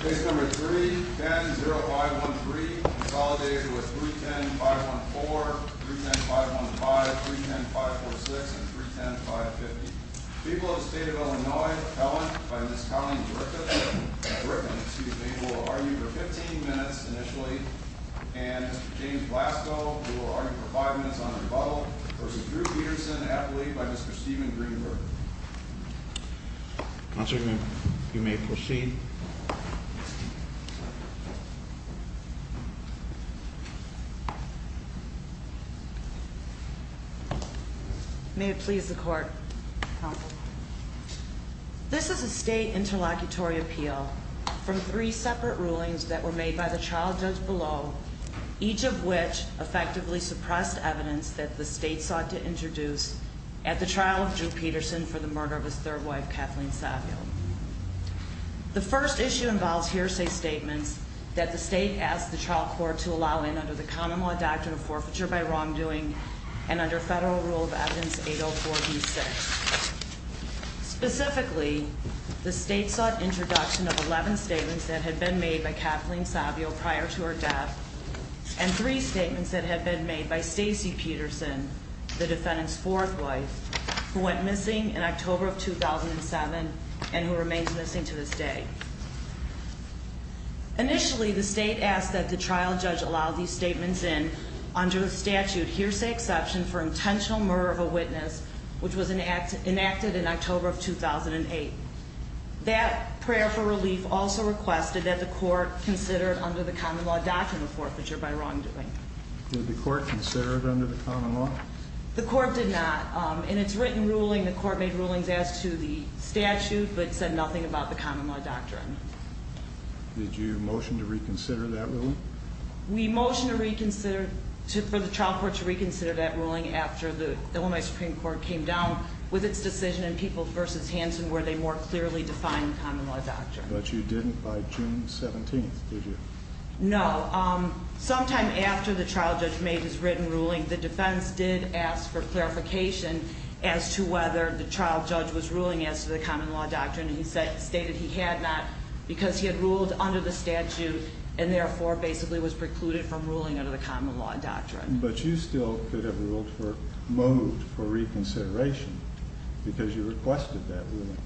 Case number 3, 10-0513, consolidated with 310-514, 310-515, 310-546, and 310-550. People of the state of Illinois, Helen, by Ms. Cunningham-Griffin, excuse me, will argue for 15 minutes initially. And Mr. James Blascoe, who will argue for five minutes on rebuttal, versus Drew Peterson, athlete by Mr. Steven Greenberg. Mr. Greenberg, you may proceed. May it please the court. This is a state interlocutory appeal from three separate rulings that were made by the trial judge below. Each of which effectively suppressed evidence that the state sought to introduce at the trial of Drew Peterson for the murder of his third wife, Kathleen Savio. The first issue involves hearsay statements that the state asked the trial court to allow in under the common law doctrine of forfeiture by wrongdoing. And under federal rule of evidence 804-B6. Specifically, the state sought introduction of 11 statements that had been made by Kathleen Savio prior to her death. And three statements that had been made by Stacey Peterson, the defendant's fourth wife, who went missing in October of 2007, and who remains missing to this day. Initially, the state asked that the trial judge allow these statements in under the statute hearsay exception for intentional murder of a witness, which was enacted in October of 2008. That prayer for relief also requested that the court consider it under the common law doctrine of forfeiture by wrongdoing. Did the court consider it under the common law? The court did not. In its written ruling, the court made rulings as to the statute, but said nothing about the common law doctrine. Did you motion to reconsider that ruling? We motioned for the trial court to reconsider that ruling after the Illinois Supreme Court came down with its decision in Peoples versus Hanson where they more clearly defined the common law doctrine. But you didn't by June 17th, did you? No. Sometime after the trial judge made his written ruling, the defense did ask for clarification as to whether the trial judge was ruling as to the common law doctrine. And he stated he had not because he had ruled under the statute and therefore basically was precluded from ruling under the common law doctrine. But you still could have ruled for, moved for reconsideration because you requested that ruling.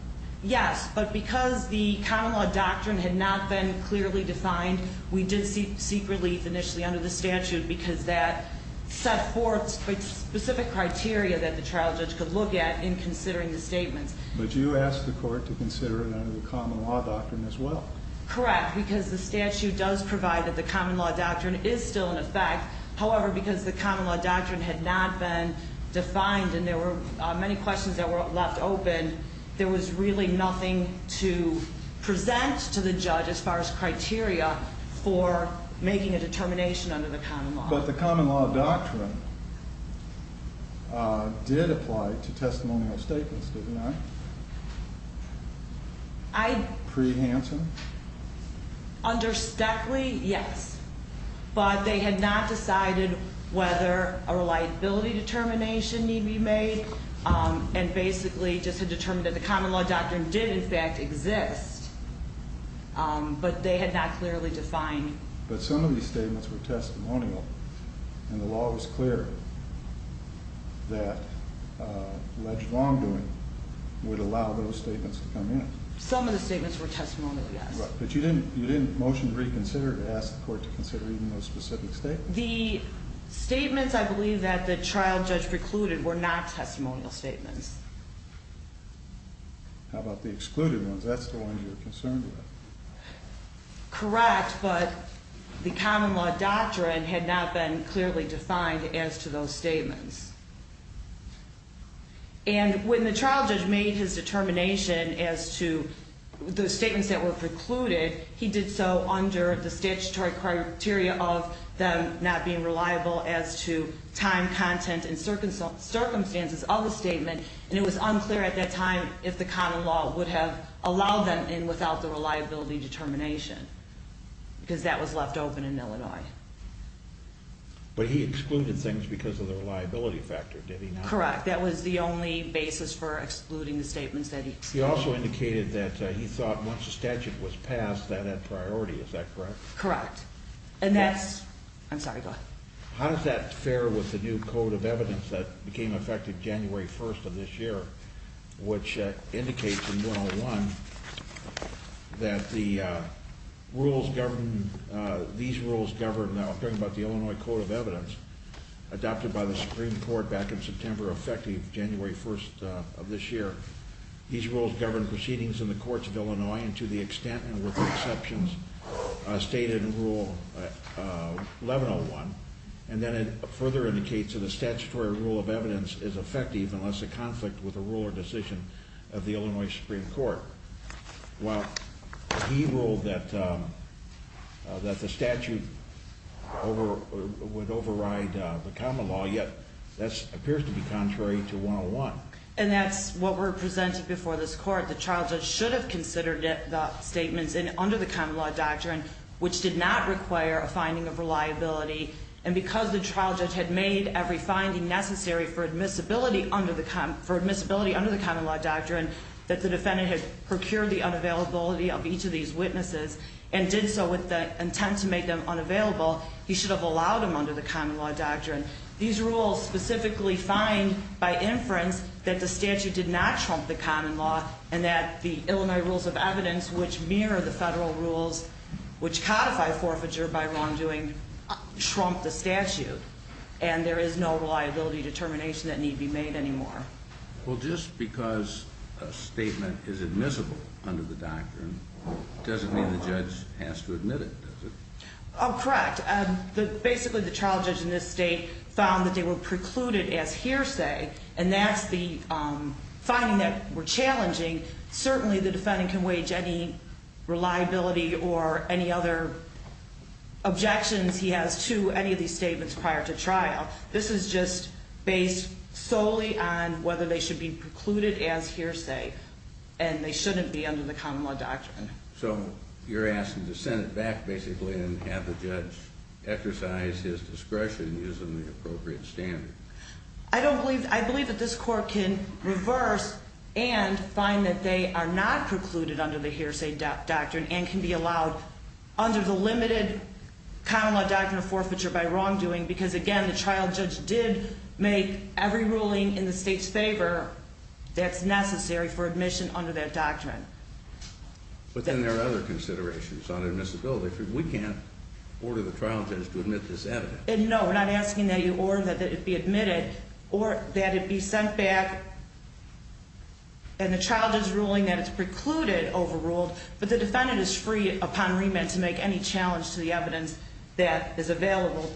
Yes, but because the common law doctrine had not been clearly defined, we did seek relief initially under the statute because that set forth specific criteria that the trial judge could look at in considering the statements. But you asked the court to consider it under the common law doctrine as well. Correct, because the statute does provide that the common law doctrine is still in effect. However, because the common law doctrine had not been defined and there were many questions that were left open, there was really nothing to present to the judge as far as criteria for making a determination under the common law. But the common law doctrine did apply to testimonial statements, didn't it? I- Pre-Hanson? Under Stackley, yes. But they had not decided whether a reliability determination need be made and basically just had determined that the common law doctrine did in fact exist, but they had not clearly defined. But some of these statements were testimonial, and the law was clear that alleged wrongdoing would allow those statements to come in. Some of the statements were testimonial, yes. But you didn't motion to reconsider to ask the court to consider even those specific statements? The statements I believe that the trial judge precluded were not testimonial statements. How about the excluded ones? That's the ones you're concerned with. Correct, but the common law doctrine had not been clearly defined as to those statements. And when the trial judge made his determination as to those statements that were precluded, he did so under the statutory criteria of them not being reliable as to time, content, and circumstances of the statement. And it was unclear at that time if the common law would have allowed them in without the reliability determination, because that was left open in Illinois. But he excluded things because of the reliability factor, did he not? Correct, that was the only basis for excluding the statements that he excluded. He also indicated that he thought once a statute was passed, that had priority, is that correct? Correct. And that's, I'm sorry, go ahead. How does that fare with the new code of evidence that became effective January 1st of this year? Which indicates in 101 that the rules govern, these rules govern, now I'm talking about the Illinois Code of Evidence adopted by the Supreme Court back in September, effective January 1st of this year, these rules govern proceedings in the courts of Illinois and to the extent and with exceptions stated in Rule 1101. And then it further indicates that a statutory rule of evidence is effective unless a conflict with a rule or decision of the Illinois Supreme Court. Well, he ruled that the statute would override the common law, yet this appears to be contrary to 101. And that's what we're presenting before this court. The trial judge should have considered the statements under the common law doctrine, which did not require a finding of reliability. And because the trial judge had made every finding necessary for procure the unavailability of each of these witnesses, and did so with the intent to make them unavailable, he should have allowed them under the common law doctrine. These rules specifically find by inference that the statute did not trump the common law and that the Illinois rules of evidence which mirror the federal rules, which codify forfeiture by wrongdoing, trump the statute. And there is no reliability determination that need be made anymore. Well, just because a statement is admissible under the doctrine, doesn't mean the judge has to admit it, does it? Correct, basically the trial judge in this state found that they were precluded as hearsay. And that's the finding that were challenging. Certainly the defendant can wage any reliability or any other objections he has to any of these statements prior to trial. This is just based solely on whether they should be precluded as hearsay. And they shouldn't be under the common law doctrine. So you're asking to send it back basically and have the judge exercise his discretion using the appropriate standard. I don't believe, I believe that this court can reverse and find that they are not precluded under the hearsay doctrine and can be allowed under the limited common law doctrine of forfeiture by wrongdoing. Because again, the trial judge did make every ruling in the state's favor that's necessary for admission under that doctrine. But then there are other considerations on admissibility. We can't order the trial judge to admit this evidence. And no, we're not asking that you order that it be admitted or that it be sent back. And the trial judge ruling that it's precluded overruled, but the defendant is free upon remit to make any challenge to the evidence that is available.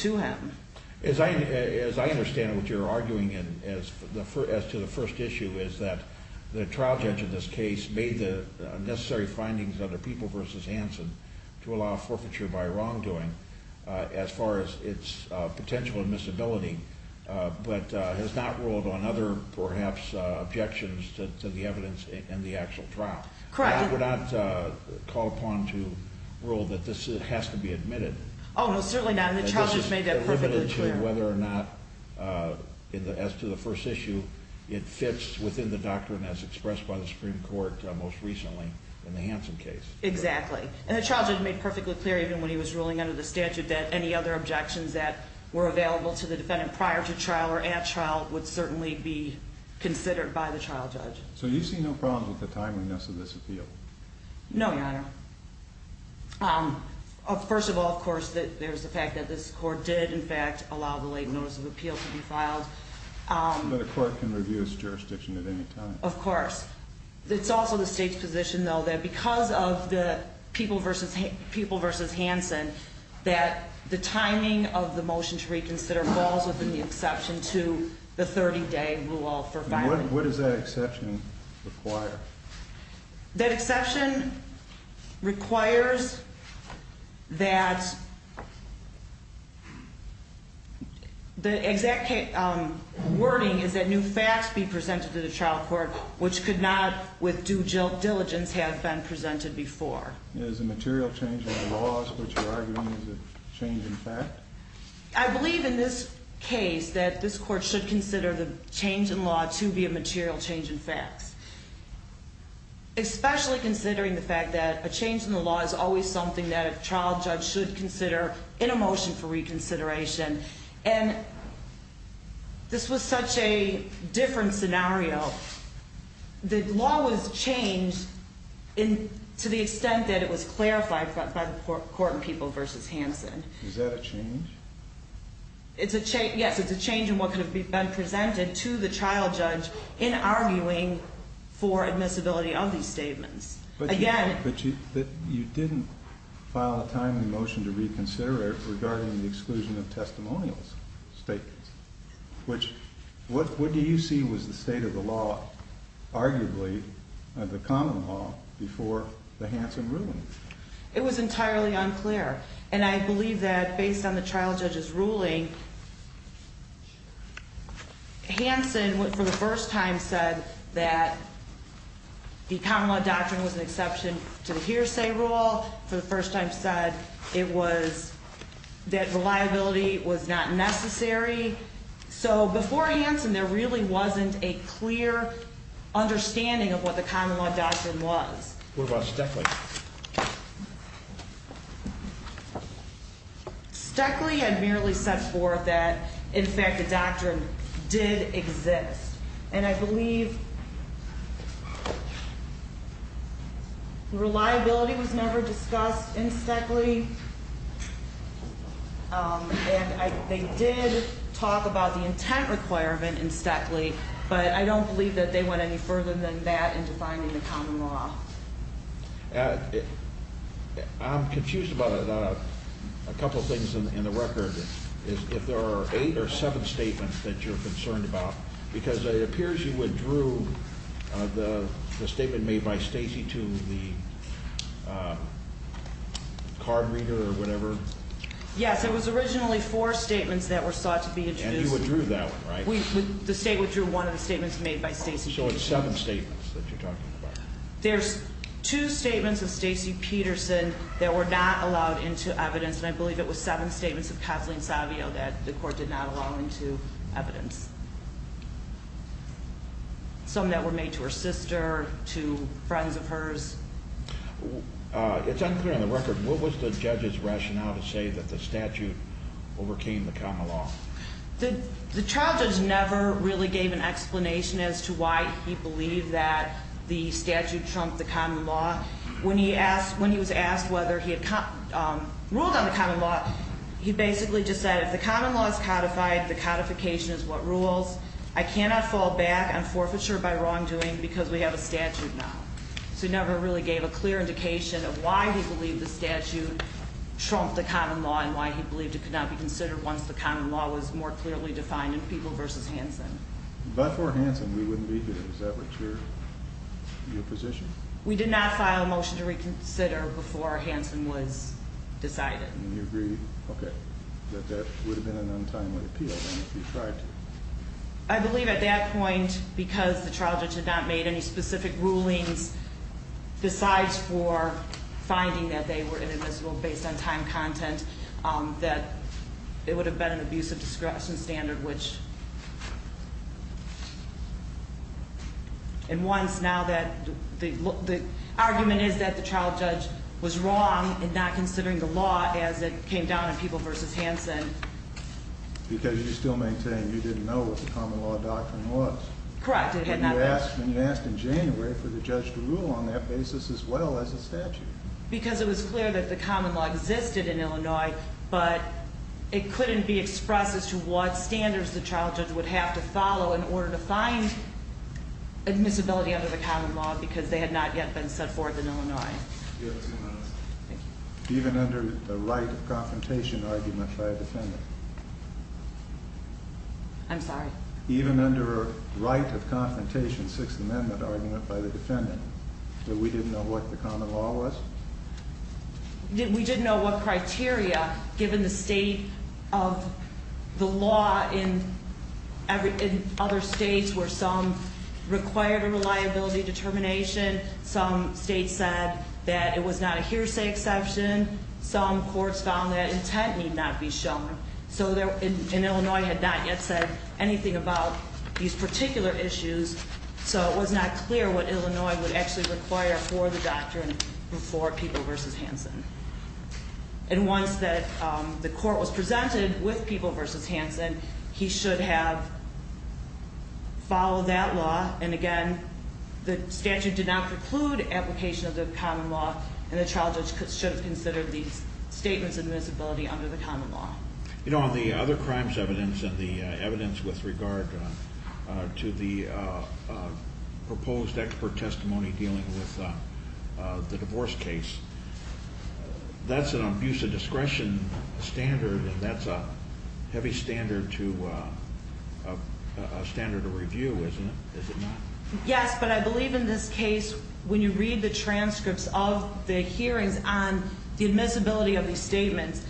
To him. As I understand what you're arguing in, as to the first issue, is that the trial judge in this case made the necessary findings under People v. Hansen to allow forfeiture by wrongdoing as far as its potential admissibility. But has not ruled on other, perhaps, objections to the evidence in the actual trial. Correct. We're not called upon to rule that this has to be admitted. No, certainly not. And the trial judge made that perfectly clear. Whether or not, as to the first issue, it fits within the doctrine as expressed by the Supreme Court most recently in the Hansen case. Exactly. And the trial judge made perfectly clear, even when he was ruling under the statute, that any other objections that were available to the defendant prior to trial or at trial would certainly be considered by the trial judge. No, your honor. First of all, of course, there's the fact that this court did, in fact, allow the late notice of appeal to be filed. But a court can review its jurisdiction at any time. Of course. It's also the state's position, though, that because of the People versus Hansen, that the timing of the motion to reconsider falls within the exception to the 30 day rule for filing. What does that exception require? That exception requires that the exact wording is that new facts be presented to the trial court, which could not, with due diligence, have been presented before. Is the material change in the laws what you're arguing is the change in fact? I believe in this case that this court should consider the change in law to be a material change in facts. Especially considering the fact that a change in the law is always something that a trial judge should consider in a motion for reconsideration. And this was such a different scenario. The law was changed to the extent that it was clarified by the court in People versus Hansen. Is that a change? It's a change, yes, it's a change in what could have been presented to the trial judge in arguing for admissibility of these statements. Again- But you didn't file a timely motion to reconsider it regarding the exclusion of testimonials statements. Which, what do you see was the state of the law, arguably, of the common law before the Hansen ruling? It was entirely unclear. And I believe that, based on the trial judge's ruling, Hansen, for the first time, said that the common law doctrine was an exception to the hearsay rule. For the first time said it was, that reliability was not necessary. So before Hansen, there really wasn't a clear understanding of what the common law doctrine was. What about Steffling? Steckley had merely set forth that, in fact, the doctrine did exist. And I believe, Reliability was never discussed in Steckley. And they did talk about the intent requirement in Steckley. But I don't believe that they went any further than that in defining the common law. I'm confused about a couple of things in the record. If there are eight or seven statements that you're concerned about. Because it appears you withdrew the statement made by Stacey to the card reader or whatever. Yes, it was originally four statements that were sought to be introduced. And you withdrew that one, right? The state withdrew one of the statements made by Stacey. So it's seven statements that you're talking about. There's two statements of Stacey Peterson that were not allowed into evidence. And I believe it was seven statements of Kathleen Savio that the court did not allow into evidence. Some that were made to her sister, to friends of hers. It's unclear on the record, what was the judge's rationale to say that the statute overcame the common law? The trial judge never really gave an explanation as to why he believed that the statute trumped the common law. When he was asked whether he had ruled on the common law, he basically just said if the common law is codified, the codification is what rules. I cannot fall back on forfeiture by wrongdoing because we have a statute now. So he never really gave a clear indication of why he believed the statute trumped the common law and why he believed it could not be considered once the common law was more clearly defined in People v. Hansen. But for Hansen, we wouldn't be here, is that what's your position? We did not file a motion to reconsider before Hansen was decided. And you agree, okay, that that would have been an untimely appeal if he tried to? I believe at that point, because the trial judge had not made any specific rulings besides for finding that they were inadmissible based on time content, that it would have been an abuse of discretion standard, which. And once, now that the argument is that the trial judge was wrong in not considering the law as it came down in People v. Hansen. Because you still maintain you didn't know what the common law doctrine was. Correct, it had not been. And you asked in January for the judge to rule on that basis as well as a statute. Because it was clear that the common law existed in Illinois, but it couldn't be expressed as to what standards the trial judge would have to follow in order to find admissibility under the common law because they had not yet been set forth in Illinois. Do you have a few minutes? Thank you. Even under the right of confrontation argument by a defendant. I'm sorry? Even under right of confrontation, Sixth Amendment argument by the defendant, that we didn't know what the common law was? We didn't know what criteria, given the state of the law in other states where some required a reliability determination. Some states said that it was not a hearsay exception. Some courts found that intent need not be shown. So in Illinois had not yet said anything about these particular issues. So it was not clear what Illinois would actually require for the doctrine before People v. Hansen. And once the court was presented with People v. Hansen, he should have followed that law. And again, the statute did not preclude application of the common law, and the trial judge should have considered these statements of admissibility under the common law. On the other crimes evidence, and the evidence with regard to the proposed expert testimony dealing with the divorce case, that's an abuse of discretion standard, and that's a heavy standard to a standard of review, isn't it, is it not? Yes, but I believe in this case, when you read the transcripts of the hearings on the admissibility of these statements,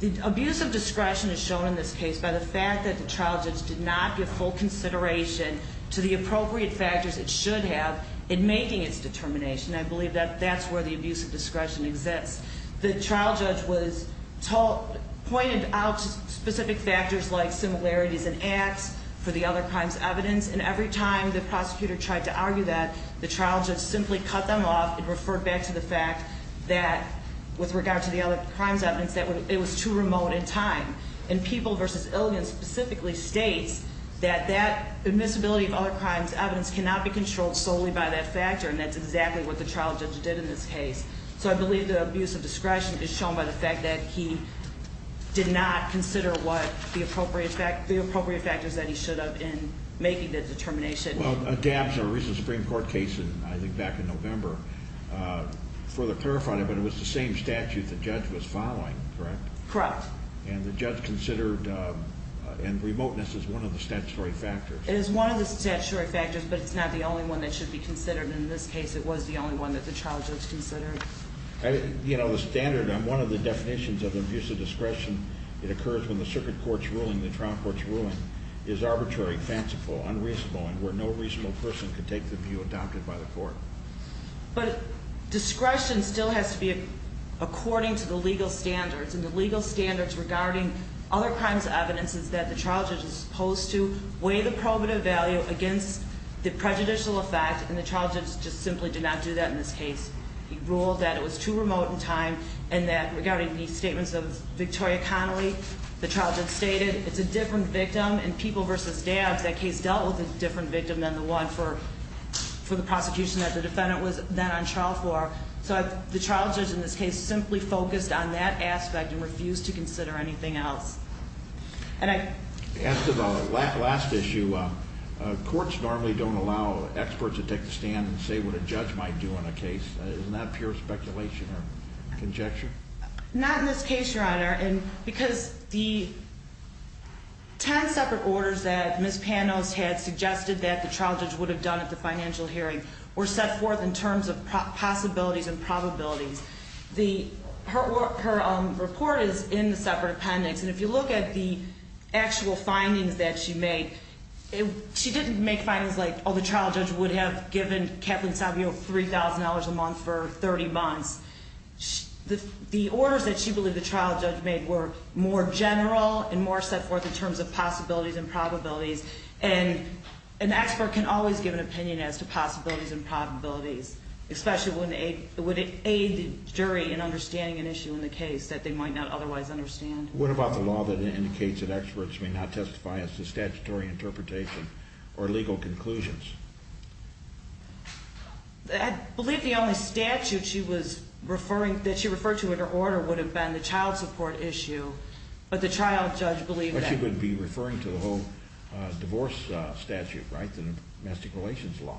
the abuse of discretion is shown in this case by the fact that the trial judge did not give full consideration to the appropriate factors it should have in making its determination. I believe that that's where the abuse of discretion exists. The trial judge was pointed out specific factors like similarities in acts for the other crimes evidence. And every time the prosecutor tried to argue that, the trial judge simply cut them off and referred back to the fact that, with regard to the other crimes evidence, that it was too remote in time. And People v. Illion specifically states that that admissibility of other crimes evidence cannot be controlled solely by that factor. And that's exactly what the trial judge did in this case. So I believe the abuse of discretion is shown by the fact that he did not consider what the appropriate factors that he should have in making that determination. Well, a recent Supreme Court case, I think back in November, further clarified it. But it was the same statute the judge was following, correct? Correct. And the judge considered, and remoteness is one of the statutory factors. It is one of the statutory factors, but it's not the only one that should be considered. In this case, it was the only one that the trial judge considered. You know, the standard on one of the definitions of abuse of discretion, it occurs when the circuit court's ruling, the trial court's ruling, is arbitrary, fanciful, unreasonable, and where no reasonable person can take the view adopted by the court. But discretion still has to be according to the legal standards. And the legal standards regarding other crimes evidence is that the trial judge is supposed to weigh the probative value against the prejudicial effect, and the trial judge just simply did not do that in this case. He ruled that it was too remote in time, and that regarding the statements of Victoria Connelly, the trial judge stated, it's a different victim, and people versus dabs. That case dealt with a different victim than the one for the prosecution that the defendant was then on trial for. So the trial judge in this case simply focused on that aspect and refused to consider anything else. And I- As to the last issue, courts normally don't allow experts to take the stand and say what a judge might do on a case, isn't that pure speculation or conjecture? Not in this case, your honor, and because the ten separate orders that Ms. Panos had suggested that the trial judge would have done at the financial hearing were set forth in terms of possibilities and probabilities. Her report is in the separate appendix, and if you look at the actual findings that she made, she didn't make findings like, the trial judge would have given Kathleen Savio $3,000 a month for 30 months. The orders that she believed the trial judge made were more general and more set forth in terms of possibilities and probabilities. And an expert can always give an opinion as to possibilities and probabilities, especially when it would aid the jury in understanding an issue in the case that they might not otherwise understand. What about the law that indicates that experts may not testify as to statutory interpretation or legal conclusions? I believe the only statute that she referred to in her order would have been the child support issue, but the trial judge believed that- But she wouldn't be referring to the whole divorce statute, right, the domestic relations law?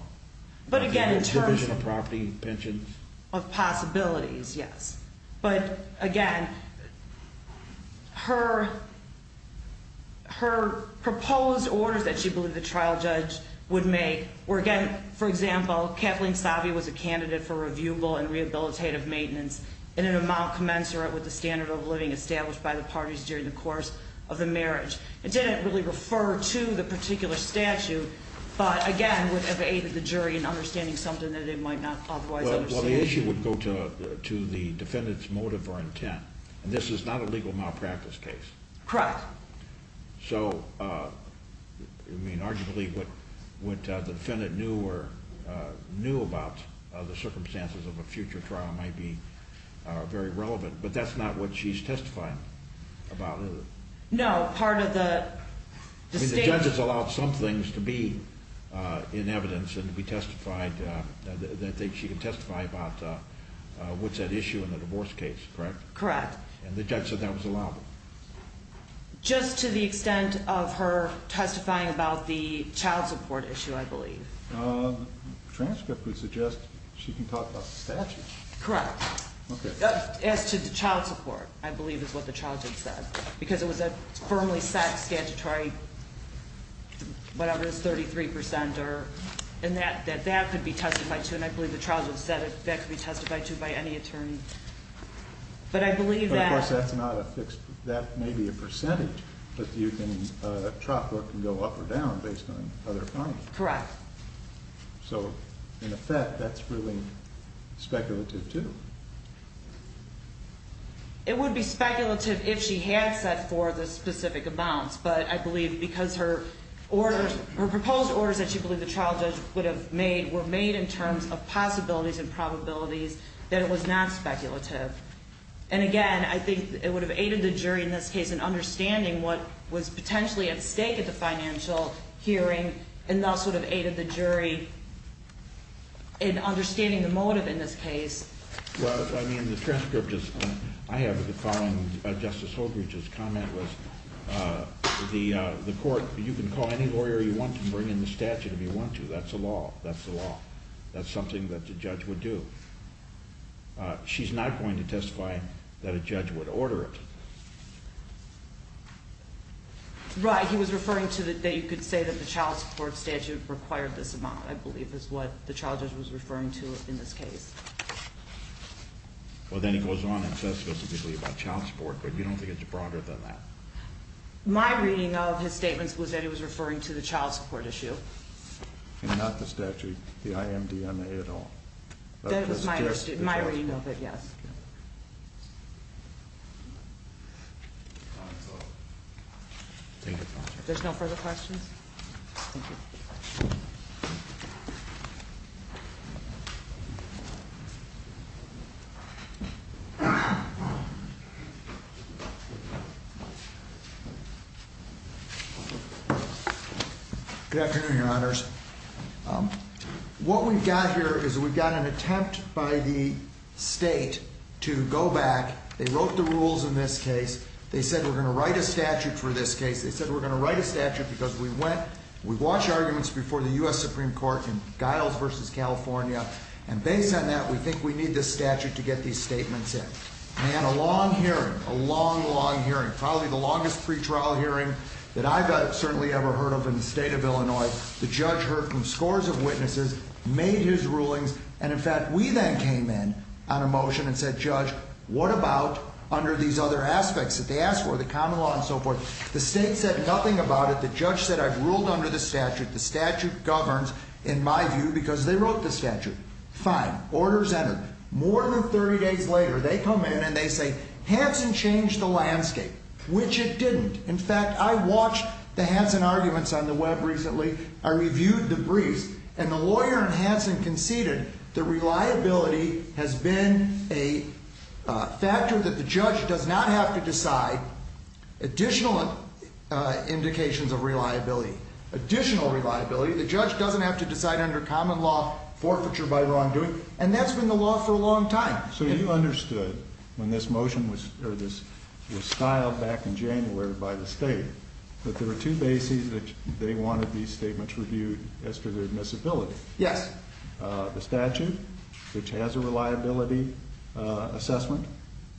But again, in terms of- Division of property, pensions? Of possibilities, yes. But again, her proposed orders that she believed the trial judge would make were more general and more set forth in terms of possibilities and probabilities. Again, for example, Kathleen Savio was a candidate for reviewable and rehabilitative maintenance in an amount commensurate with the standard of living established by the parties during the course of the marriage. It didn't really refer to the particular statute, but again, would have aided the jury in understanding something that they might not otherwise understand. Well, the issue would go to the defendant's motive or intent, and this is not a legal malpractice case. Correct. So, I mean, arguably what the defendant knew about the circumstances of a future trial might be very relevant, but that's not what she's testifying about, is it? No, part of the- I mean, the judge has allowed some things to be in evidence and to be testified, that she can testify about what's at issue in the divorce case, correct? Correct. And the judge said that was allowed? Just to the extent of her testifying about the child support issue, I believe. The transcript would suggest she can talk about the statute. Correct. Okay. As to the child support, I believe is what the trial judge said, because it was a firmly set statutory, whatever it is, 33%, and that could be testified to, and I believe the trial judge said that could be testified to by any attorney. But I believe that- But, of course, that's not a fixed- that may be a percentage, but you can- a trial court can go up or down based on other findings. Correct. So, in effect, that's really speculative, too. It would be speculative if she had set forth the specific amounts, but I believe because her orders- her proposed orders that she believed the trial judge would have made were made in terms of possibilities and probabilities, that it was not speculative. And, again, I think it would have aided the jury in this case in understanding what was potentially at stake at the financial hearing, and thus would have aided the jury in understanding the motive in this case. Well, I mean, the transcript just- I have the following- Justice Holbrook's comment was the court- you can call any lawyer you want to bring in the statute if you want to. That's the law. That's the law. That's something that the judge would do. She's not going to testify that a judge would order it. Right. He was referring to the- that you could say that the child support statute required this amount, I believe, is what the trial judge was referring to in this case. Well, then he goes on and says specifically about child support, but you don't think it's broader than that. My reading of his statements was that he was referring to the child support issue. And not the statute- the IMDMA at all. That was my reading of it, yes. There's no further questions? Thank you. Good afternoon, Your Honors. What we've got here is we've got an attempt by the state to go back. They wrote the rules in this case. They said we're going to write a statute for this case. They said we're going to write a statute because we went- we watched arguments before the U.S. Supreme Court in Giles v. California. And based on that, we think we need this statute to get these statements in. And a long hearing, a long, long hearing, probably the longest pretrial hearing that I've certainly ever heard of in the state of Illinois. The judge heard from scores of witnesses, made his rulings. And, in fact, we then came in on a motion and said, Judge, what about under these other aspects that they asked for, the common law and so forth? The state said nothing about it. The judge said I've ruled under the statute. The statute governs, in my view, because they wrote the statute. Fine. Orders entered. More than 30 days later, they come in and they say Hansen changed the landscape, which it didn't. In fact, I watched the Hansen arguments on the web recently. I reviewed the briefs. And the lawyer in Hansen conceded that reliability has been a factor that the judge does not have to decide additional indications of reliability, additional reliability. The judge doesn't have to decide under common law forfeiture by wrongdoing. And that's been the law for a long time. So you understood when this motion was styled back in January by the state that there were two bases that they wanted these statements reviewed as to their admissibility. Yes. The statute, which has a reliability assessment.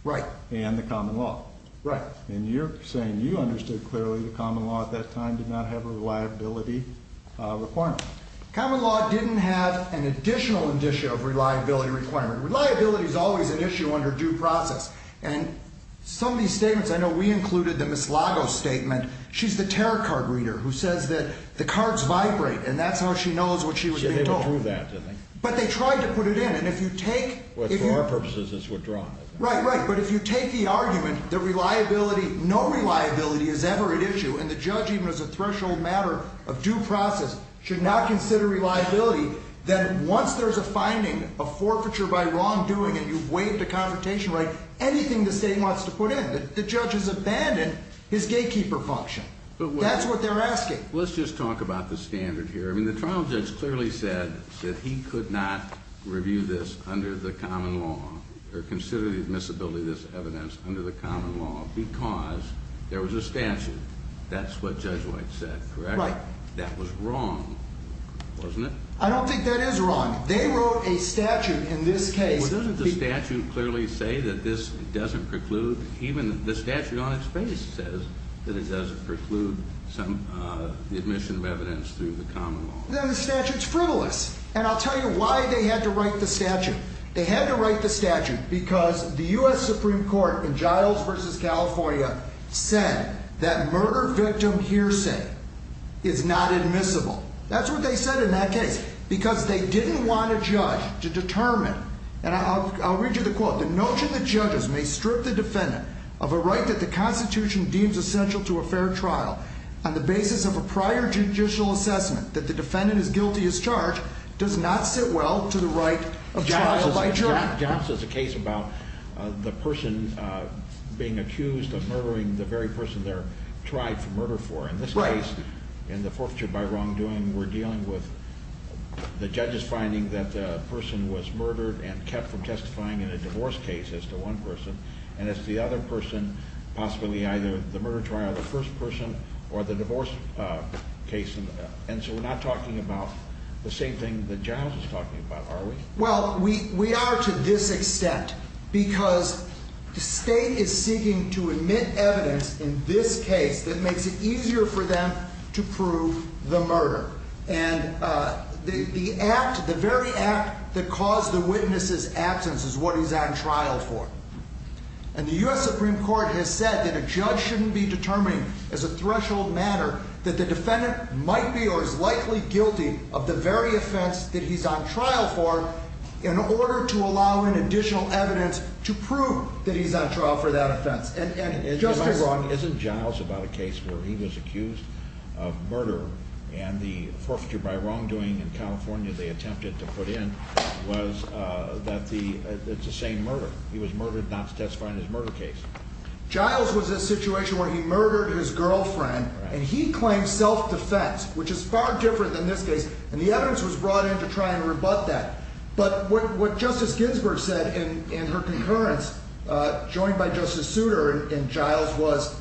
Right. And the common law. Right. And you're saying you understood clearly the common law at that time did not have a reliability requirement. Common law didn't have an additional indicia of reliability requirement. Reliability is always an issue under due process. And some of these statements, I know we included the Miss Lagos statement. She's the tarot card reader who says that the cards vibrate and that's how she knows what she was being told. So they withdrew that, didn't they? But they tried to put it in. And if you take... Well, for our purposes it's withdrawn. Right, right. But if you take the argument that reliability, no reliability is ever at issue, and the judge even as a threshold matter of due process should not consider reliability, then once there's a finding of forfeiture by wrongdoing and you've waived a confrontation right, anything the state wants to put in, the judge has abandoned his gatekeeper function. That's what they're asking. Let's just talk about the standard here. I mean the trial judge clearly said that he could not review this under the common law or consider the admissibility of this evidence under the common law because there was a statute. That's what Judge White said, correct? Right. That was wrong, wasn't it? I don't think that is wrong. They wrote a statute in this case. Well, doesn't the statute clearly say that this doesn't preclude? Even the statute on its face says that it doesn't preclude some admission of evidence through the common law. The statute's frivolous, and I'll tell you why they had to write the statute. They had to write the statute because the U.S. Supreme Court in Giles v. California said that murder victim hearsay is not admissible. That's what they said in that case because they didn't want a judge to determine, and I'll read you the quote, the notion that judges may strip the defendant of a right that the Constitution deems essential to a fair trial on the basis of a prior judicial assessment that the defendant is guilty as charged does not sit well to the right of trial by jury. Johnson's case about the person being accused of murdering the very person they're tried for murder for. Right. In this case, in the forfeiture by wrongdoing, we're dealing with the judge's finding that the person was murdered and kept from testifying in a divorce case as to one person and as to the other person, possibly either the murder trial of the first person or the divorce case, and so we're not talking about the same thing that Giles is talking about, are we? Well, we are to this extent because the state is seeking to admit evidence in this case that makes it easier for them to prove the murder. And the act, the very act that caused the witness's absence is what he's on trial for. And the U.S. Supreme Court has said that a judge shouldn't be determining as a threshold matter that the defendant might be or is likely guilty of the very offense that he's on trial for in order to allow in additional evidence to prove that he's on trial for that offense. And, Justin, if I'm wrong, isn't Giles about a case where he was accused of murder and the forfeiture by wrongdoing in California they attempted to put in was that the, it's the same murder. He was murdered not testifying in his murder case. Giles was in a situation where he murdered his girlfriend and he claimed self-defense, which is far different than this case, and the evidence was brought in to try and rebut that. But what Justice Ginsburg said in her concurrence, joined by Justice Souter and Giles, was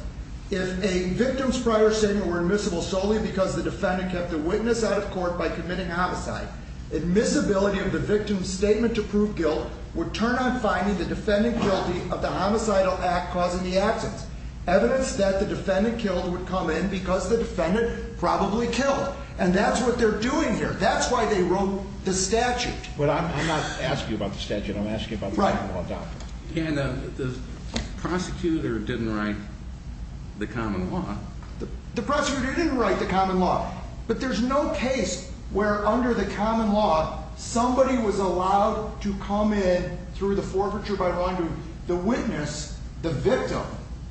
if a victim's prior statement were admissible solely because the defendant kept the witness out of court by committing homicide, admissibility of the victim's statement to prove guilt would turn on finding the defendant guilty of the homicidal act causing the accidents. Evidence that the defendant killed would come in because the defendant probably killed. And that's what they're doing here. That's why they wrote the statute. But I'm not asking you about the statute. I'm asking you about the common law doctrine. And the prosecutor didn't write the common law. The prosecutor didn't write the common law. But there's no case where, under the common law, somebody was allowed to come in through the forfeiture by the wrongdoer, the witness, the victim.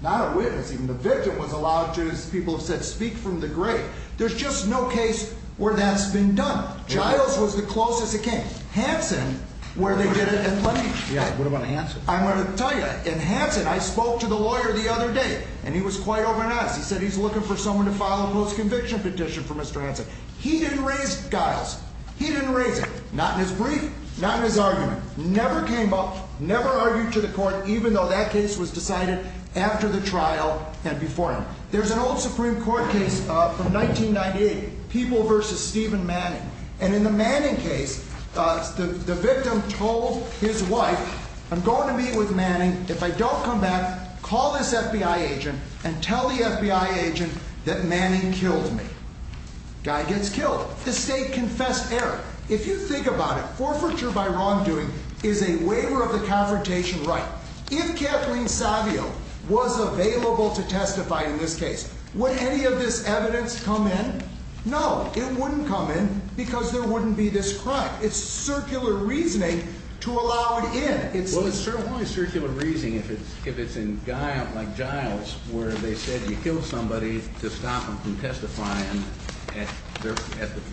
Not a witness, even. The victim was allowed to, as people have said, speak from the grave. There's just no case where that's been done. Giles was the closest it came. Hanson, where they did it at Lynch. Yeah, what about Hanson? I'm going to tell you. In Hanson, I spoke to the lawyer the other day, and he was quite open and honest. He said he's looking for someone to file a post-conviction petition for Mr. Hanson. He didn't raise Giles. He didn't raise it, not in his brief, not in his argument. Never came up, never argued to the court, even though that case was decided after the trial and before him. There's an old Supreme Court case from 1998, People v. Stephen Manning. And in the Manning case, the victim told his wife, I'm going to meet with Manning. If I don't come back, call this FBI agent and tell the FBI agent that Manning killed me. Guy gets killed. The state confessed error. If you think about it, forfeiture by wrongdoing is a waiver of the confrontation right. If Kathleen Savio was available to testify in this case, would any of this evidence come in? No, it wouldn't come in because there wouldn't be this crime. It's circular reasoning to allow it in. Well, it's certainly circular reasoning if it's in Giles, where they said you killed somebody to stop them from testifying at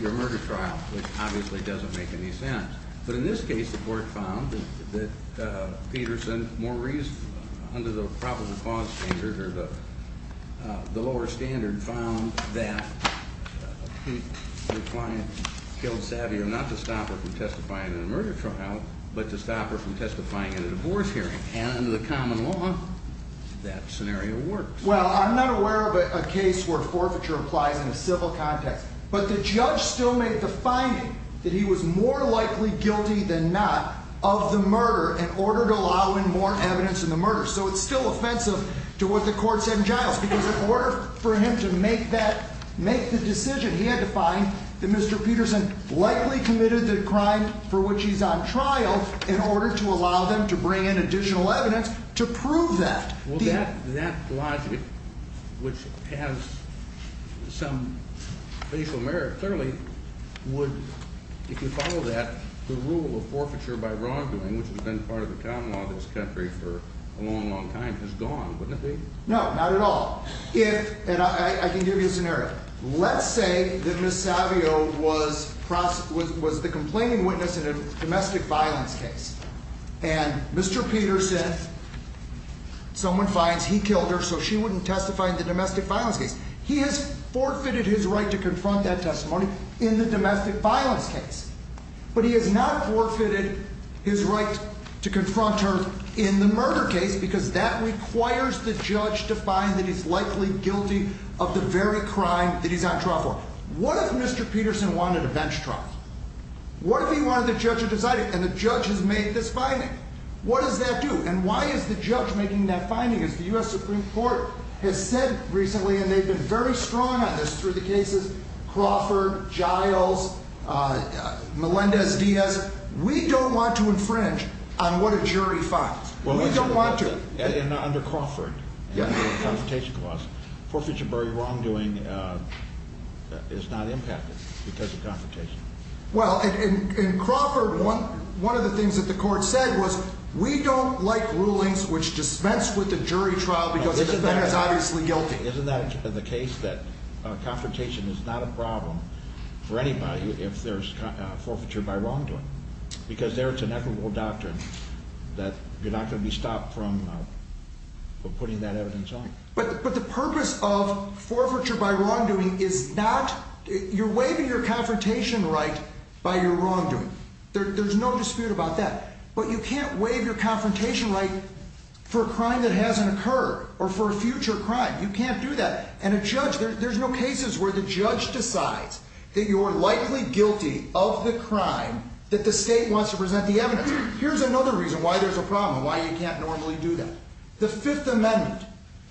your murder trial, which obviously doesn't make any sense. But in this case, the court found that Peterson more reasonable under the probable cause standard or the lower standard found that the client killed Savio not to stop her from testifying in a murder trial, but to stop her from testifying in a divorce hearing. And under the common law, that scenario works. Well, I'm not aware of a case where forfeiture applies in a civil context. But the judge still made the finding that he was more likely guilty than not of the murder in order to allow in more evidence in the murder. So it's still offensive to what the court said in Giles. Because in order for him to make the decision, he had to find that Mr. Peterson likely committed the crime for which he's on trial in order to allow them to bring in additional evidence to prove that. Well, that logic, which has some facial merit, clearly would, if you follow that, the rule of forfeiture by wrongdoing, which has been part of the common law of this country for a long, long time, is gone, wouldn't it be? No, not at all. And I can give you a scenario. Let's say that Ms. Savio was the complaining witness in a domestic violence case. And Mr. Peterson, someone finds he killed her so she wouldn't testify in the domestic violence case. He has forfeited his right to confront that testimony in the domestic violence case. But he has not forfeited his right to confront her in the murder case because that requires the judge to find that he's likely guilty of the very crime that he's on trial for. What if Mr. Peterson wanted a bench trial? What if he wanted the judge to decide it? And the judge has made this finding. What does that do? And why is the judge making that finding? As the U.S. Supreme Court has said recently, and they've been very strong on this through the cases Crawford, Giles, Melendez-Diaz, we don't want to infringe on what a jury finds. We don't want to. Under Crawford, under the Confrontation Clause, forfeiture by wrongdoing is not impacted because of confrontation. Well, in Crawford, one of the things that the court said was we don't like rulings which dispense with the jury trial because the defendant is obviously guilty. Isn't that the case that confrontation is not a problem for anybody if there's forfeiture by wrongdoing? Because there it's an equitable doctrine that you're not going to be stopped from putting that evidence on. But the purpose of forfeiture by wrongdoing is not – you're waiving your confrontation right by your wrongdoing. There's no dispute about that. But you can't waive your confrontation right for a crime that hasn't occurred or for a future crime. You can't do that. And a judge – there's no cases where the judge decides that you're likely guilty of the crime that the state wants to present the evidence. Here's another reason why there's a problem, why you can't normally do that. The Fifth Amendment.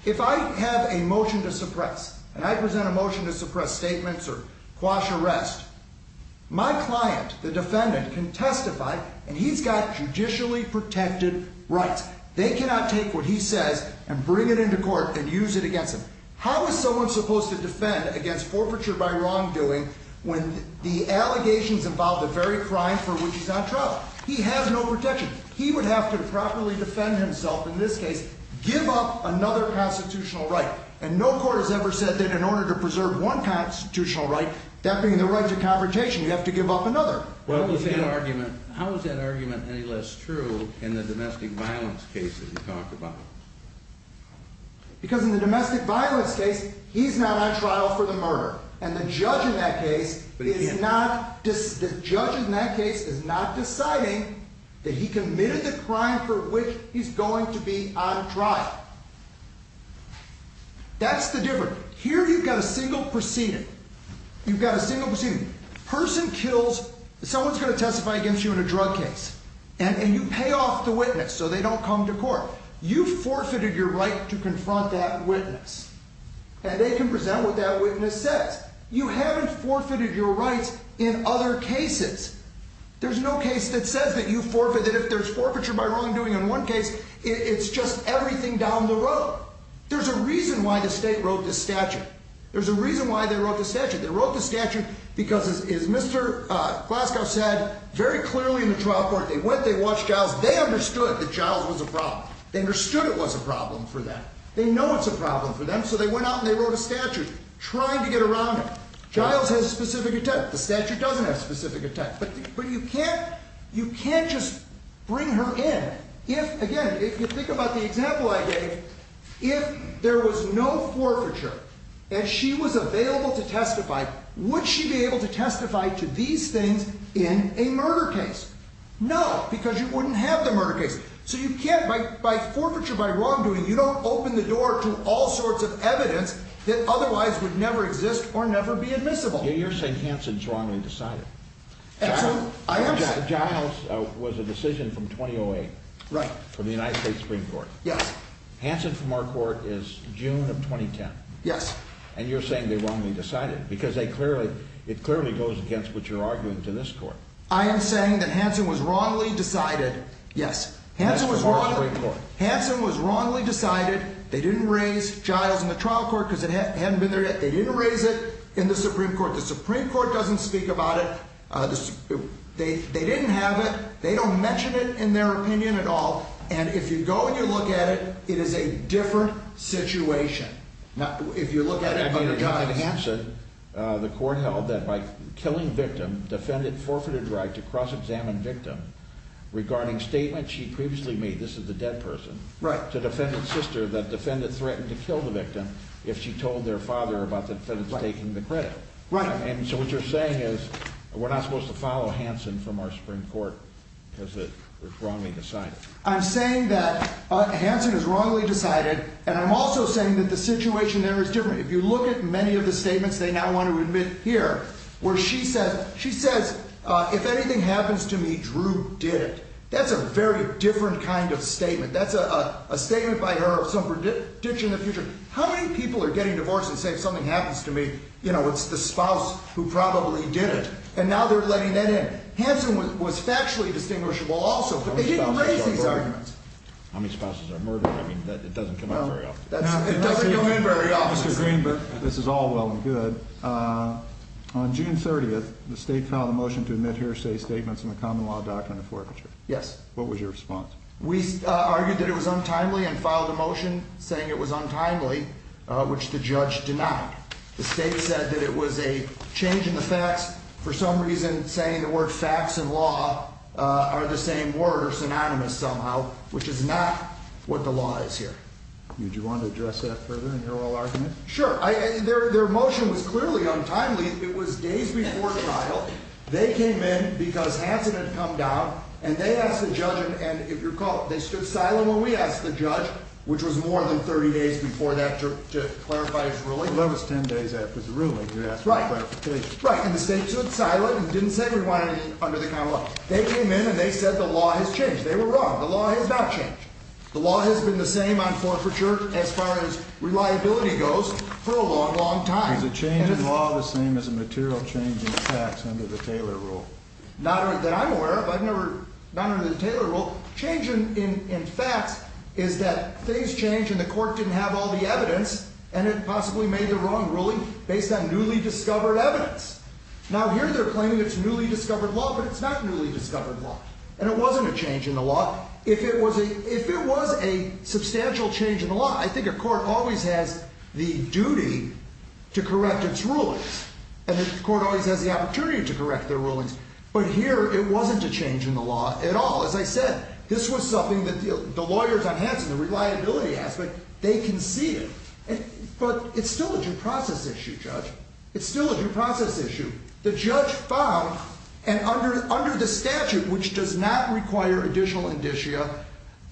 If I have a motion to suppress and I present a motion to suppress statements or quash arrest, my client, the defendant, can testify and he's got judicially protected rights. They cannot take what he says and bring it into court and use it against him. How is someone supposed to defend against forfeiture by wrongdoing when the allegations involve the very crime for which he's on trial? He has no protection. He would have to properly defend himself in this case, give up another constitutional right. And no court has ever said that in order to preserve one constitutional right, that being the right to confrontation, you have to give up another. Well, how is that argument any less true in the domestic violence cases you talk about? Because in the domestic violence case, he's not on trial for the murder. And the judge in that case is not deciding that he committed the crime for which he's going to be on trial. That's the difference. Here you've got a single proceeding. You've got a single proceeding. Person kills – someone's going to testify against you in a drug case. You've forfeited your right to confront that witness. And they can present what that witness says. You haven't forfeited your rights in other cases. There's no case that says that you forfeit, that if there's forfeiture by wrongdoing in one case, it's just everything down the road. There's a reason why the state wrote this statute. There's a reason why they wrote this statute. They wrote this statute because, as Mr. Glasgow said very clearly in the trial court, they went, they watched Giles, they understood that Giles was a problem. They understood it was a problem for them. They know it's a problem for them, so they went out and they wrote a statute trying to get around it. Giles has a specific attempt. The statute doesn't have a specific attempt. But you can't just bring her in. Again, if you think about the example I gave, if there was no forfeiture and she was available to testify, would she be able to testify to these things in a murder case? No, because you wouldn't have the murder case. So you can't, by forfeiture, by wrongdoing, you don't open the door to all sorts of evidence that otherwise would never exist or never be admissible. You're saying Hansen's wrongly decided. I am saying. Giles was a decision from 2008. Right. For the United States Supreme Court. Yes. Hansen from our court is June of 2010. Yes. And you're saying they wrongly decided because they clearly, it clearly goes against what you're arguing to this court. I am saying that Hansen was wrongly decided. Yes. Hansen was wrongly decided. They didn't raise Giles in the trial court because it hadn't been there yet. They didn't raise it in the Supreme Court. The Supreme Court doesn't speak about it. They didn't have it. They don't mention it in their opinion at all. And if you go and you look at it, it is a different situation. If you look at it under Giles. In Hansen, the court held that by killing victim, defendant forfeited right to cross-examine victim regarding statement she previously made, this is the dead person. Right. To defendant's sister that defendant threatened to kill the victim if she told their father about the defendant taking the credit. Right. And so what you're saying is we're not supposed to follow Hansen from our Supreme Court because it was wrongly decided. I'm saying that Hansen is wrongly decided. And I'm also saying that the situation there is different. If you look at many of the statements they now want to admit here, where she says, she says, if anything happens to me, Drew did it. That's a very different kind of statement. That's a statement by her of some prediction of the future. How many people are getting divorced and say, if something happens to me, you know, it's the spouse who probably did it. And now they're letting that in. Hansen was factually distinguishable also. He didn't raise these arguments. How many spouses are murdered? I mean, it doesn't come up very often. It doesn't come in very often. Mr. Greenberg, this is all well and good. On June 30th, the state filed a motion to admit hearsay statements in the common law doctrine of forfeiture. Yes. What was your response? We argued that it was untimely and filed a motion saying it was untimely, which the judge denied. The state said that it was a change in the facts. For some reason, saying the word facts and law are the same word or synonymous somehow, which is not what the law is here. Would you want to address that further in your oral argument? Sure. Their motion was clearly untimely. It was days before trial. They came in because Hansen had come down, and they asked the judge, and if you recall, they stood silent when we asked the judge, which was more than 30 days before that, to clarify his ruling. That was 10 days after the ruling. You're asking for clarification. Right. And the state stood silent and didn't say we wanted anything under the common law. They came in, and they said the law has changed. They were wrong. The law has not changed. The law has been the same on forfeiture, as far as reliability goes, for a long, long time. Is a change in law the same as a material change in facts under the Taylor rule? Not that I'm aware of. I've never, not under the Taylor rule. Change in facts is that things change, and the court didn't have all the evidence, and it possibly made the wrong ruling based on newly discovered evidence. Now, here they're claiming it's newly discovered law, but it's not newly discovered law. And it wasn't a change in the law. If it was a substantial change in the law, I think a court always has the duty to correct its rulings, and the court always has the opportunity to correct their rulings. But here, it wasn't a change in the law at all. As I said, this was something that the lawyers on Hanson, the reliability aspect, they can see it. But it's still a due process issue, Judge. It's still a due process issue. The judge found, and under the statute, which does not require additional indicia,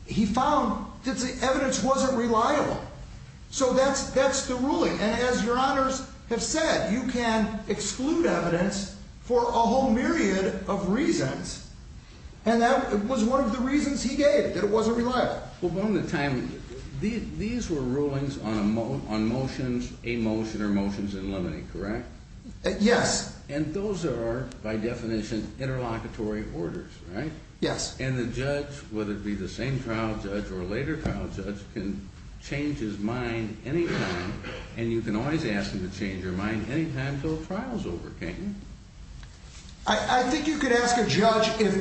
he found that the evidence wasn't reliable. So that's the ruling. And as Your Honors have said, you can exclude evidence for a whole myriad of reasons. And that was one of the reasons he gave, that it wasn't reliable. Well, one of the time, these were rulings on motions, a motion or motions in limine, correct? Yes. And those are, by definition, interlocutory orders, right? Yes. And the judge, whether it be the same trial judge or a later trial judge, can change his mind any time, and you can always ask him to change your mind any time until a trial is over, can't you? I think you could ask a judge if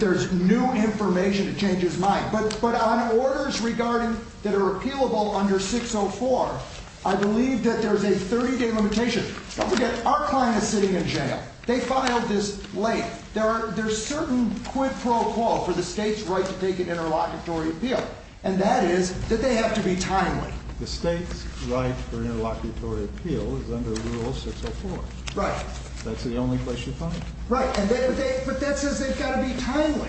there's new information to change his mind. But on orders regarding, that are appealable under 604, I believe that there's a 30-day limitation. Don't forget, our client is sitting in jail. They filed this late. There's certain quid pro quo for the state's right to take an interlocutory appeal, and that is that they have to be timely. The state's right for interlocutory appeal is under Rule 604. Right. That's the only place you find it. Right. But that says they've got to be timely.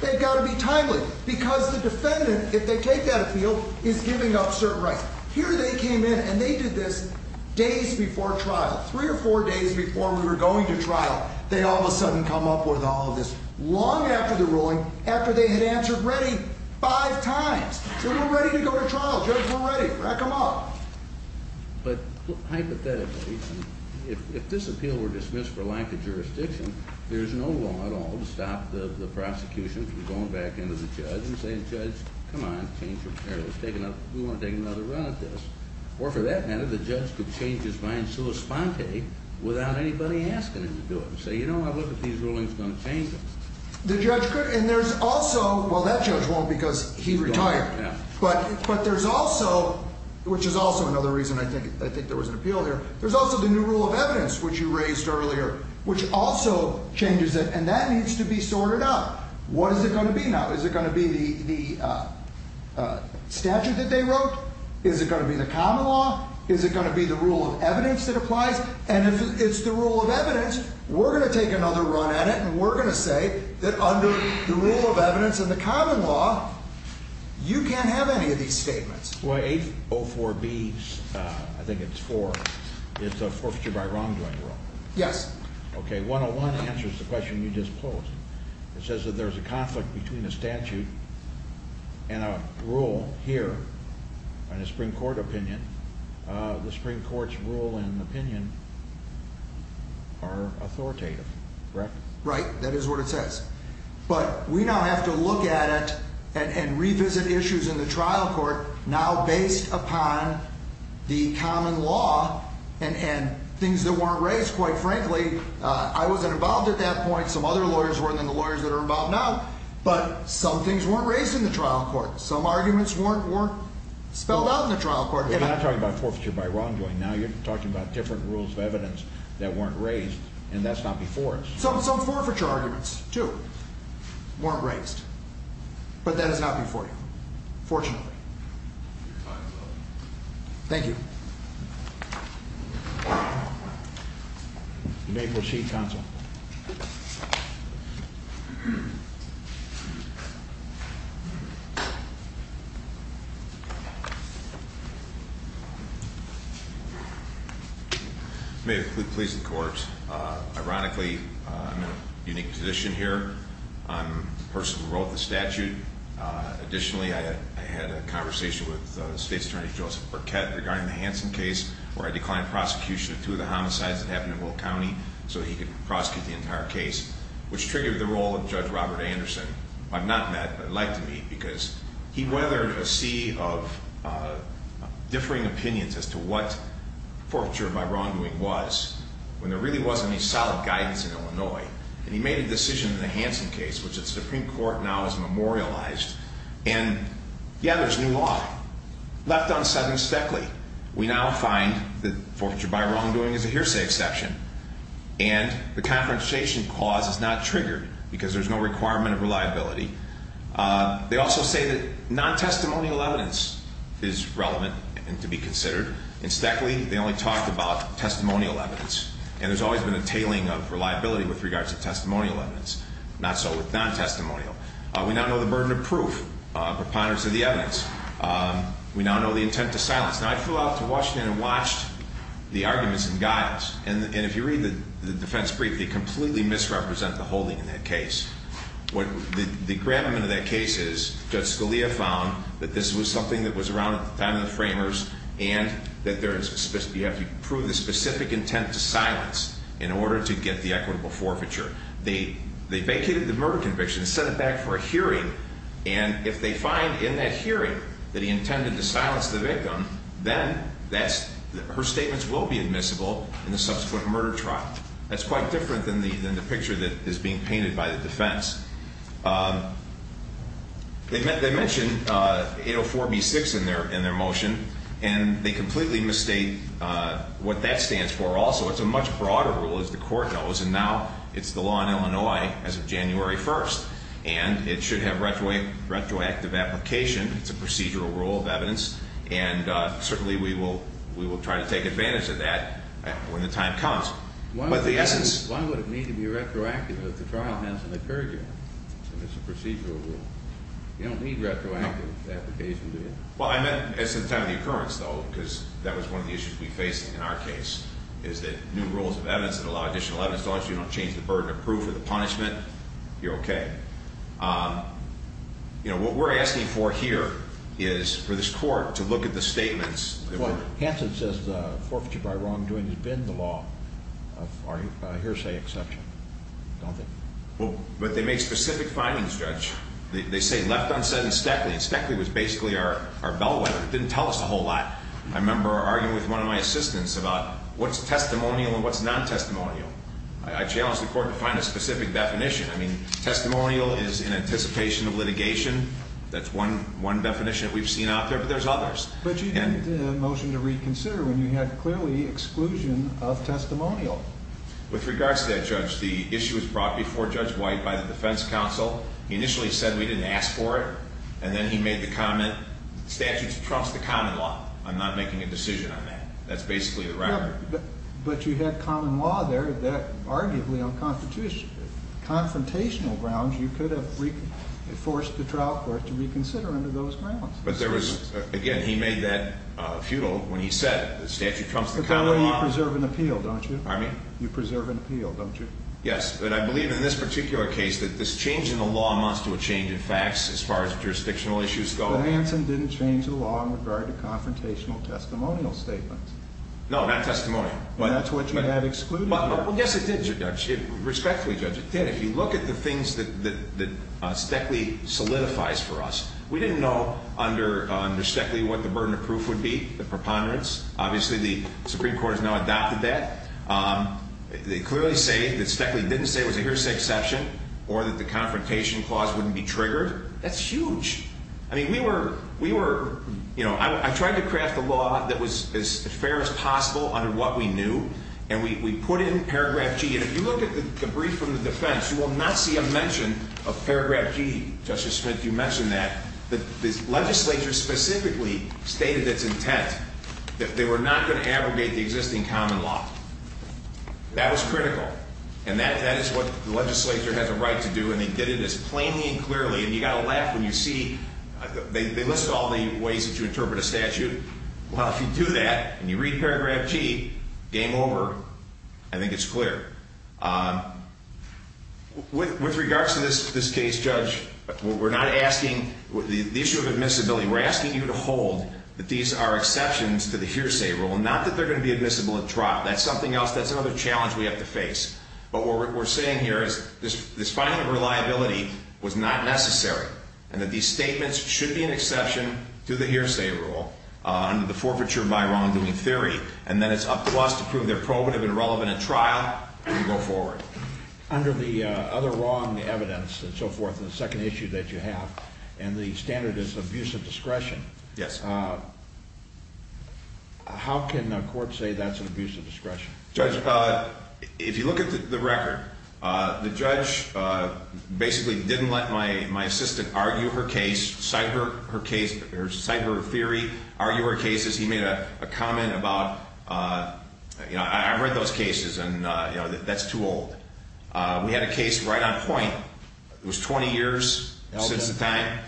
They've got to be timely, because the defendant, if they take that appeal, is giving up certain rights. Here they came in, and they did this days before trial, three or four days before we were going to trial. They all of a sudden come up with all of this long after the ruling, after they had answered ready five times. We're not ready to go to trial. Judge, we're ready. Rack them up. But hypothetically, if this appeal were dismissed for lack of jurisdiction, there's no law at all to stop the prosecution from going back into the judge and saying, Judge, come on, change your mind. We want to take another run at this. Or for that matter, the judge could change his mind sui sponte without anybody asking him to do it and say, You know, I look at these rulings, I'm going to change them. The judge could, and there's also, well, that judge won't because he retired. Yeah. But there's also, which is also another reason I think there was an appeal here, there's also the new rule of evidence, which you raised earlier, which also changes it. And that needs to be sorted out. What is it going to be now? Is it going to be the statute that they wrote? Is it going to be the common law? Is it going to be the rule of evidence that applies? And if it's the rule of evidence, we're going to take another run at it, and we're going to say that under the rule of evidence and the common law, you can't have any of these statements. Well, 804B, I think it's 4, it's a forfeiture by wrongdoing rule. Yes. Okay, 101 answers the question you just posed. It says that there's a conflict between a statute and a rule here on a Supreme Court opinion. The Supreme Court's rule and opinion are authoritative, correct? Right, that is what it says. But we now have to look at it and revisit issues in the trial court now based upon the common law and things that weren't raised, quite frankly. I wasn't involved at that point. Some other lawyers were, and then the lawyers that are involved now. But some things weren't raised in the trial court. Some arguments weren't spelled out in the trial court. But you're not talking about forfeiture by wrongdoing. Now you're talking about different rules of evidence that weren't raised, and that's not before us. Some forfeiture arguments, too, weren't raised. But that is not before you, fortunately. Thank you. You may proceed, counsel. May it please the court. Ironically, I'm in a unique position here. I'm the person who wrote the statute. Additionally, I had a conversation with State's Attorney Joseph Burkett regarding the Hanson case, where I declined prosecution of two of the homicides that happened in Will County so he could prosecute the entire case, which triggered the role of Judge Robert Anderson, who I've not met but would like to meet, because he weathered a sea of differing opinions as to what forfeiture by wrongdoing was when there really wasn't any solid guidance in Illinois. And he made a decision in the Hanson case, which the Supreme Court now has memorialized. And, yeah, there's new law. Left unsettling Steckley. We now find that forfeiture by wrongdoing is a hearsay exception, and the confrontation clause is not triggered because there's no requirement of reliability. They also say that non-testimonial evidence is relevant and to be considered. In Steckley, they only talked about testimonial evidence, and there's always been a tailing of reliability with regards to testimonial evidence, not so with non-testimonial. We now know the burden of proof, preponderance of the evidence. We now know the intent to silence. Now, I flew out to Washington and watched the arguments in guise, and if you read the defense brief, they completely misrepresent the holding in that case. The gravamen of that case is Judge Scalia found that this was something that was around at the time of the framers and that you have to prove the specific intent to silence in order to get the equitable forfeiture. They vacated the murder conviction and sent it back for a hearing, and if they find in that hearing that he intended to silence the victim, then her statements will be admissible in the subsequent murder trial. That's quite different than the picture that is being painted by the defense. They mention 804B6 in their motion, and they completely misstate what that stands for also. So it's a much broader rule, as the Court knows, and now it's the law in Illinois as of January 1st, and it should have retroactive application. It's a procedural rule of evidence, and certainly we will try to take advantage of that when the time comes. Why would it need to be retroactive if the trial hasn't occurred yet, if it's a procedural rule? You don't need retroactive application, do you? Well, I meant as of the time of the occurrence, though, because that was one of the issues we're facing in our case, is that new rules of evidence that allow additional evidence, as long as you don't change the burden of proof or the punishment, you're okay. What we're asking for here is for this Court to look at the statements. Hanson says the forfeiture by wrongdoing has been the law of our hearsay exception, don't they? Well, but they make specific findings, Judge. They say left unsaid and speckly, and speckly was basically our bellwether. It didn't tell us a whole lot. I remember arguing with one of my assistants about what's testimonial and what's non-testimonial. I challenged the Court to find a specific definition. I mean, testimonial is in anticipation of litigation. That's one definition that we've seen out there, but there's others. But you didn't motion to reconsider when you had clearly exclusion of testimonial. With regards to that, Judge, the issue was brought before Judge White by the defense counsel. He initially said we didn't ask for it, and then he made the comment, the statute trumps the common law. I'm not making a decision on that. That's basically the record. But you had common law there that arguably on confrontational grounds, you could have forced the trial court to reconsider under those grounds. But there was, again, he made that futile when he said the statute trumps the common law. But that way you preserve an appeal, don't you? Pardon me? You preserve an appeal, don't you? Yes, but I believe in this particular case that this change in the law amounts to a change in facts as far as jurisdictional issues go. But Hansen didn't change the law in regard to confrontational testimonial statements. No, not testimony. That's what you had excluded. Well, yes, it did, Judge. Respectfully, Judge, it did. If you look at the things that Steckley solidifies for us, we didn't know under Steckley what the burden of proof would be, the preponderance. Obviously, the Supreme Court has now adopted that. They clearly say that Steckley didn't say it was a hearsay exception or that the confrontation clause wouldn't be triggered. That's huge. I mean, we were, you know, I tried to craft a law that was as fair as possible under what we knew, and we put in paragraph G. And if you look at the brief from the defense, you will not see a mention of paragraph G. Justice Smith, you mentioned that. The legislature specifically stated its intent that they were not going to abrogate the existing common law. That was critical, and that is what the legislature has a right to do, and they did it as plainly and clearly. And you've got to laugh when you see they list all the ways that you interpret a statute. Well, if you do that and you read paragraph G, game over. I think it's clear. With regards to this case, Judge, we're not asking the issue of admissibility. We're asking you to hold that these are exceptions to the hearsay rule, not that they're going to be admissible at trial. That's something else. That's another challenge we have to face. But what we're saying here is this finding of reliability was not necessary and that these statements should be an exception to the hearsay rule under the forfeiture by wrongdoing theory, and then it's up to us to prove they're probative and relevant at trial and go forward. Under the other wrong evidence and so forth in the second issue that you have and the standard is abuse of discretion, how can a court say that's an abuse of discretion? Judge, if you look at the record, the judge basically didn't let my assistant argue her case, cite her theory, argue her cases. He made a comment about, you know, I've read those cases and, you know, that's too old. We had a case right on point. It was 20 years since the time.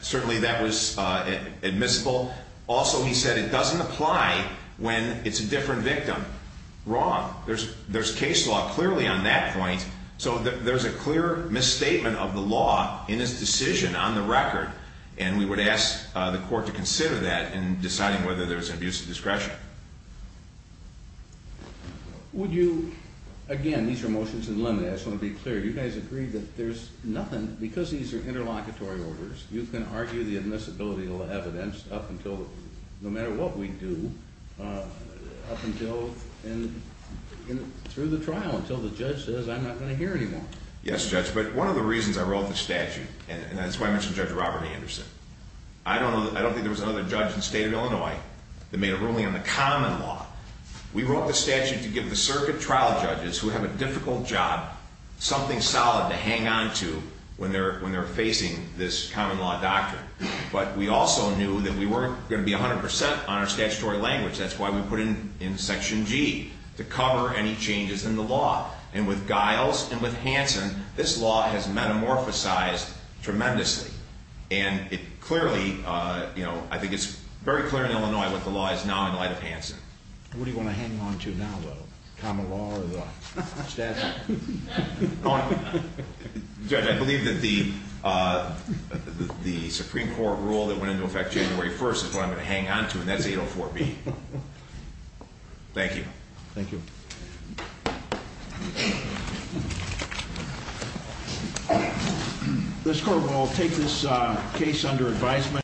Certainly that was admissible. Also, he said it doesn't apply when it's a different victim. Wrong. There's case law clearly on that point, so there's a clear misstatement of the law in his decision on the record, and we would ask the court to consider that in deciding whether there's an abuse of discretion. Would you, again, these are motions in the limit. I just want to be clear. You guys agreed that there's nothing, because these are interlocutory orders, you can argue the admissibility of evidence up until, no matter what we do, up until through the trial until the judge says I'm not going to hear anymore. Yes, Judge, but one of the reasons I wrote the statute, and that's why I mentioned Judge Robert Anderson. I don't think there was another judge in the state of Illinois that made a ruling on the common law. We wrote the statute to give the circuit trial judges who have a difficult job something solid to hang on to when they're facing this common law doctrine, but we also knew that we weren't going to be 100% on our statutory language. That's why we put it in Section G, to cover any changes in the law, and with Giles and with Hanson, this law has metamorphosized tremendously, and it clearly, you know, I think it's very clear in Illinois what the law is now in light of Hanson. What do you want to hang on to now, the common law or the statute? Judge, I believe that the Supreme Court rule that went into effect January 1st is what I'm going to hang on to, and that's 804B. Thank you. Thank you. Thank you. This court will take this case under advisement.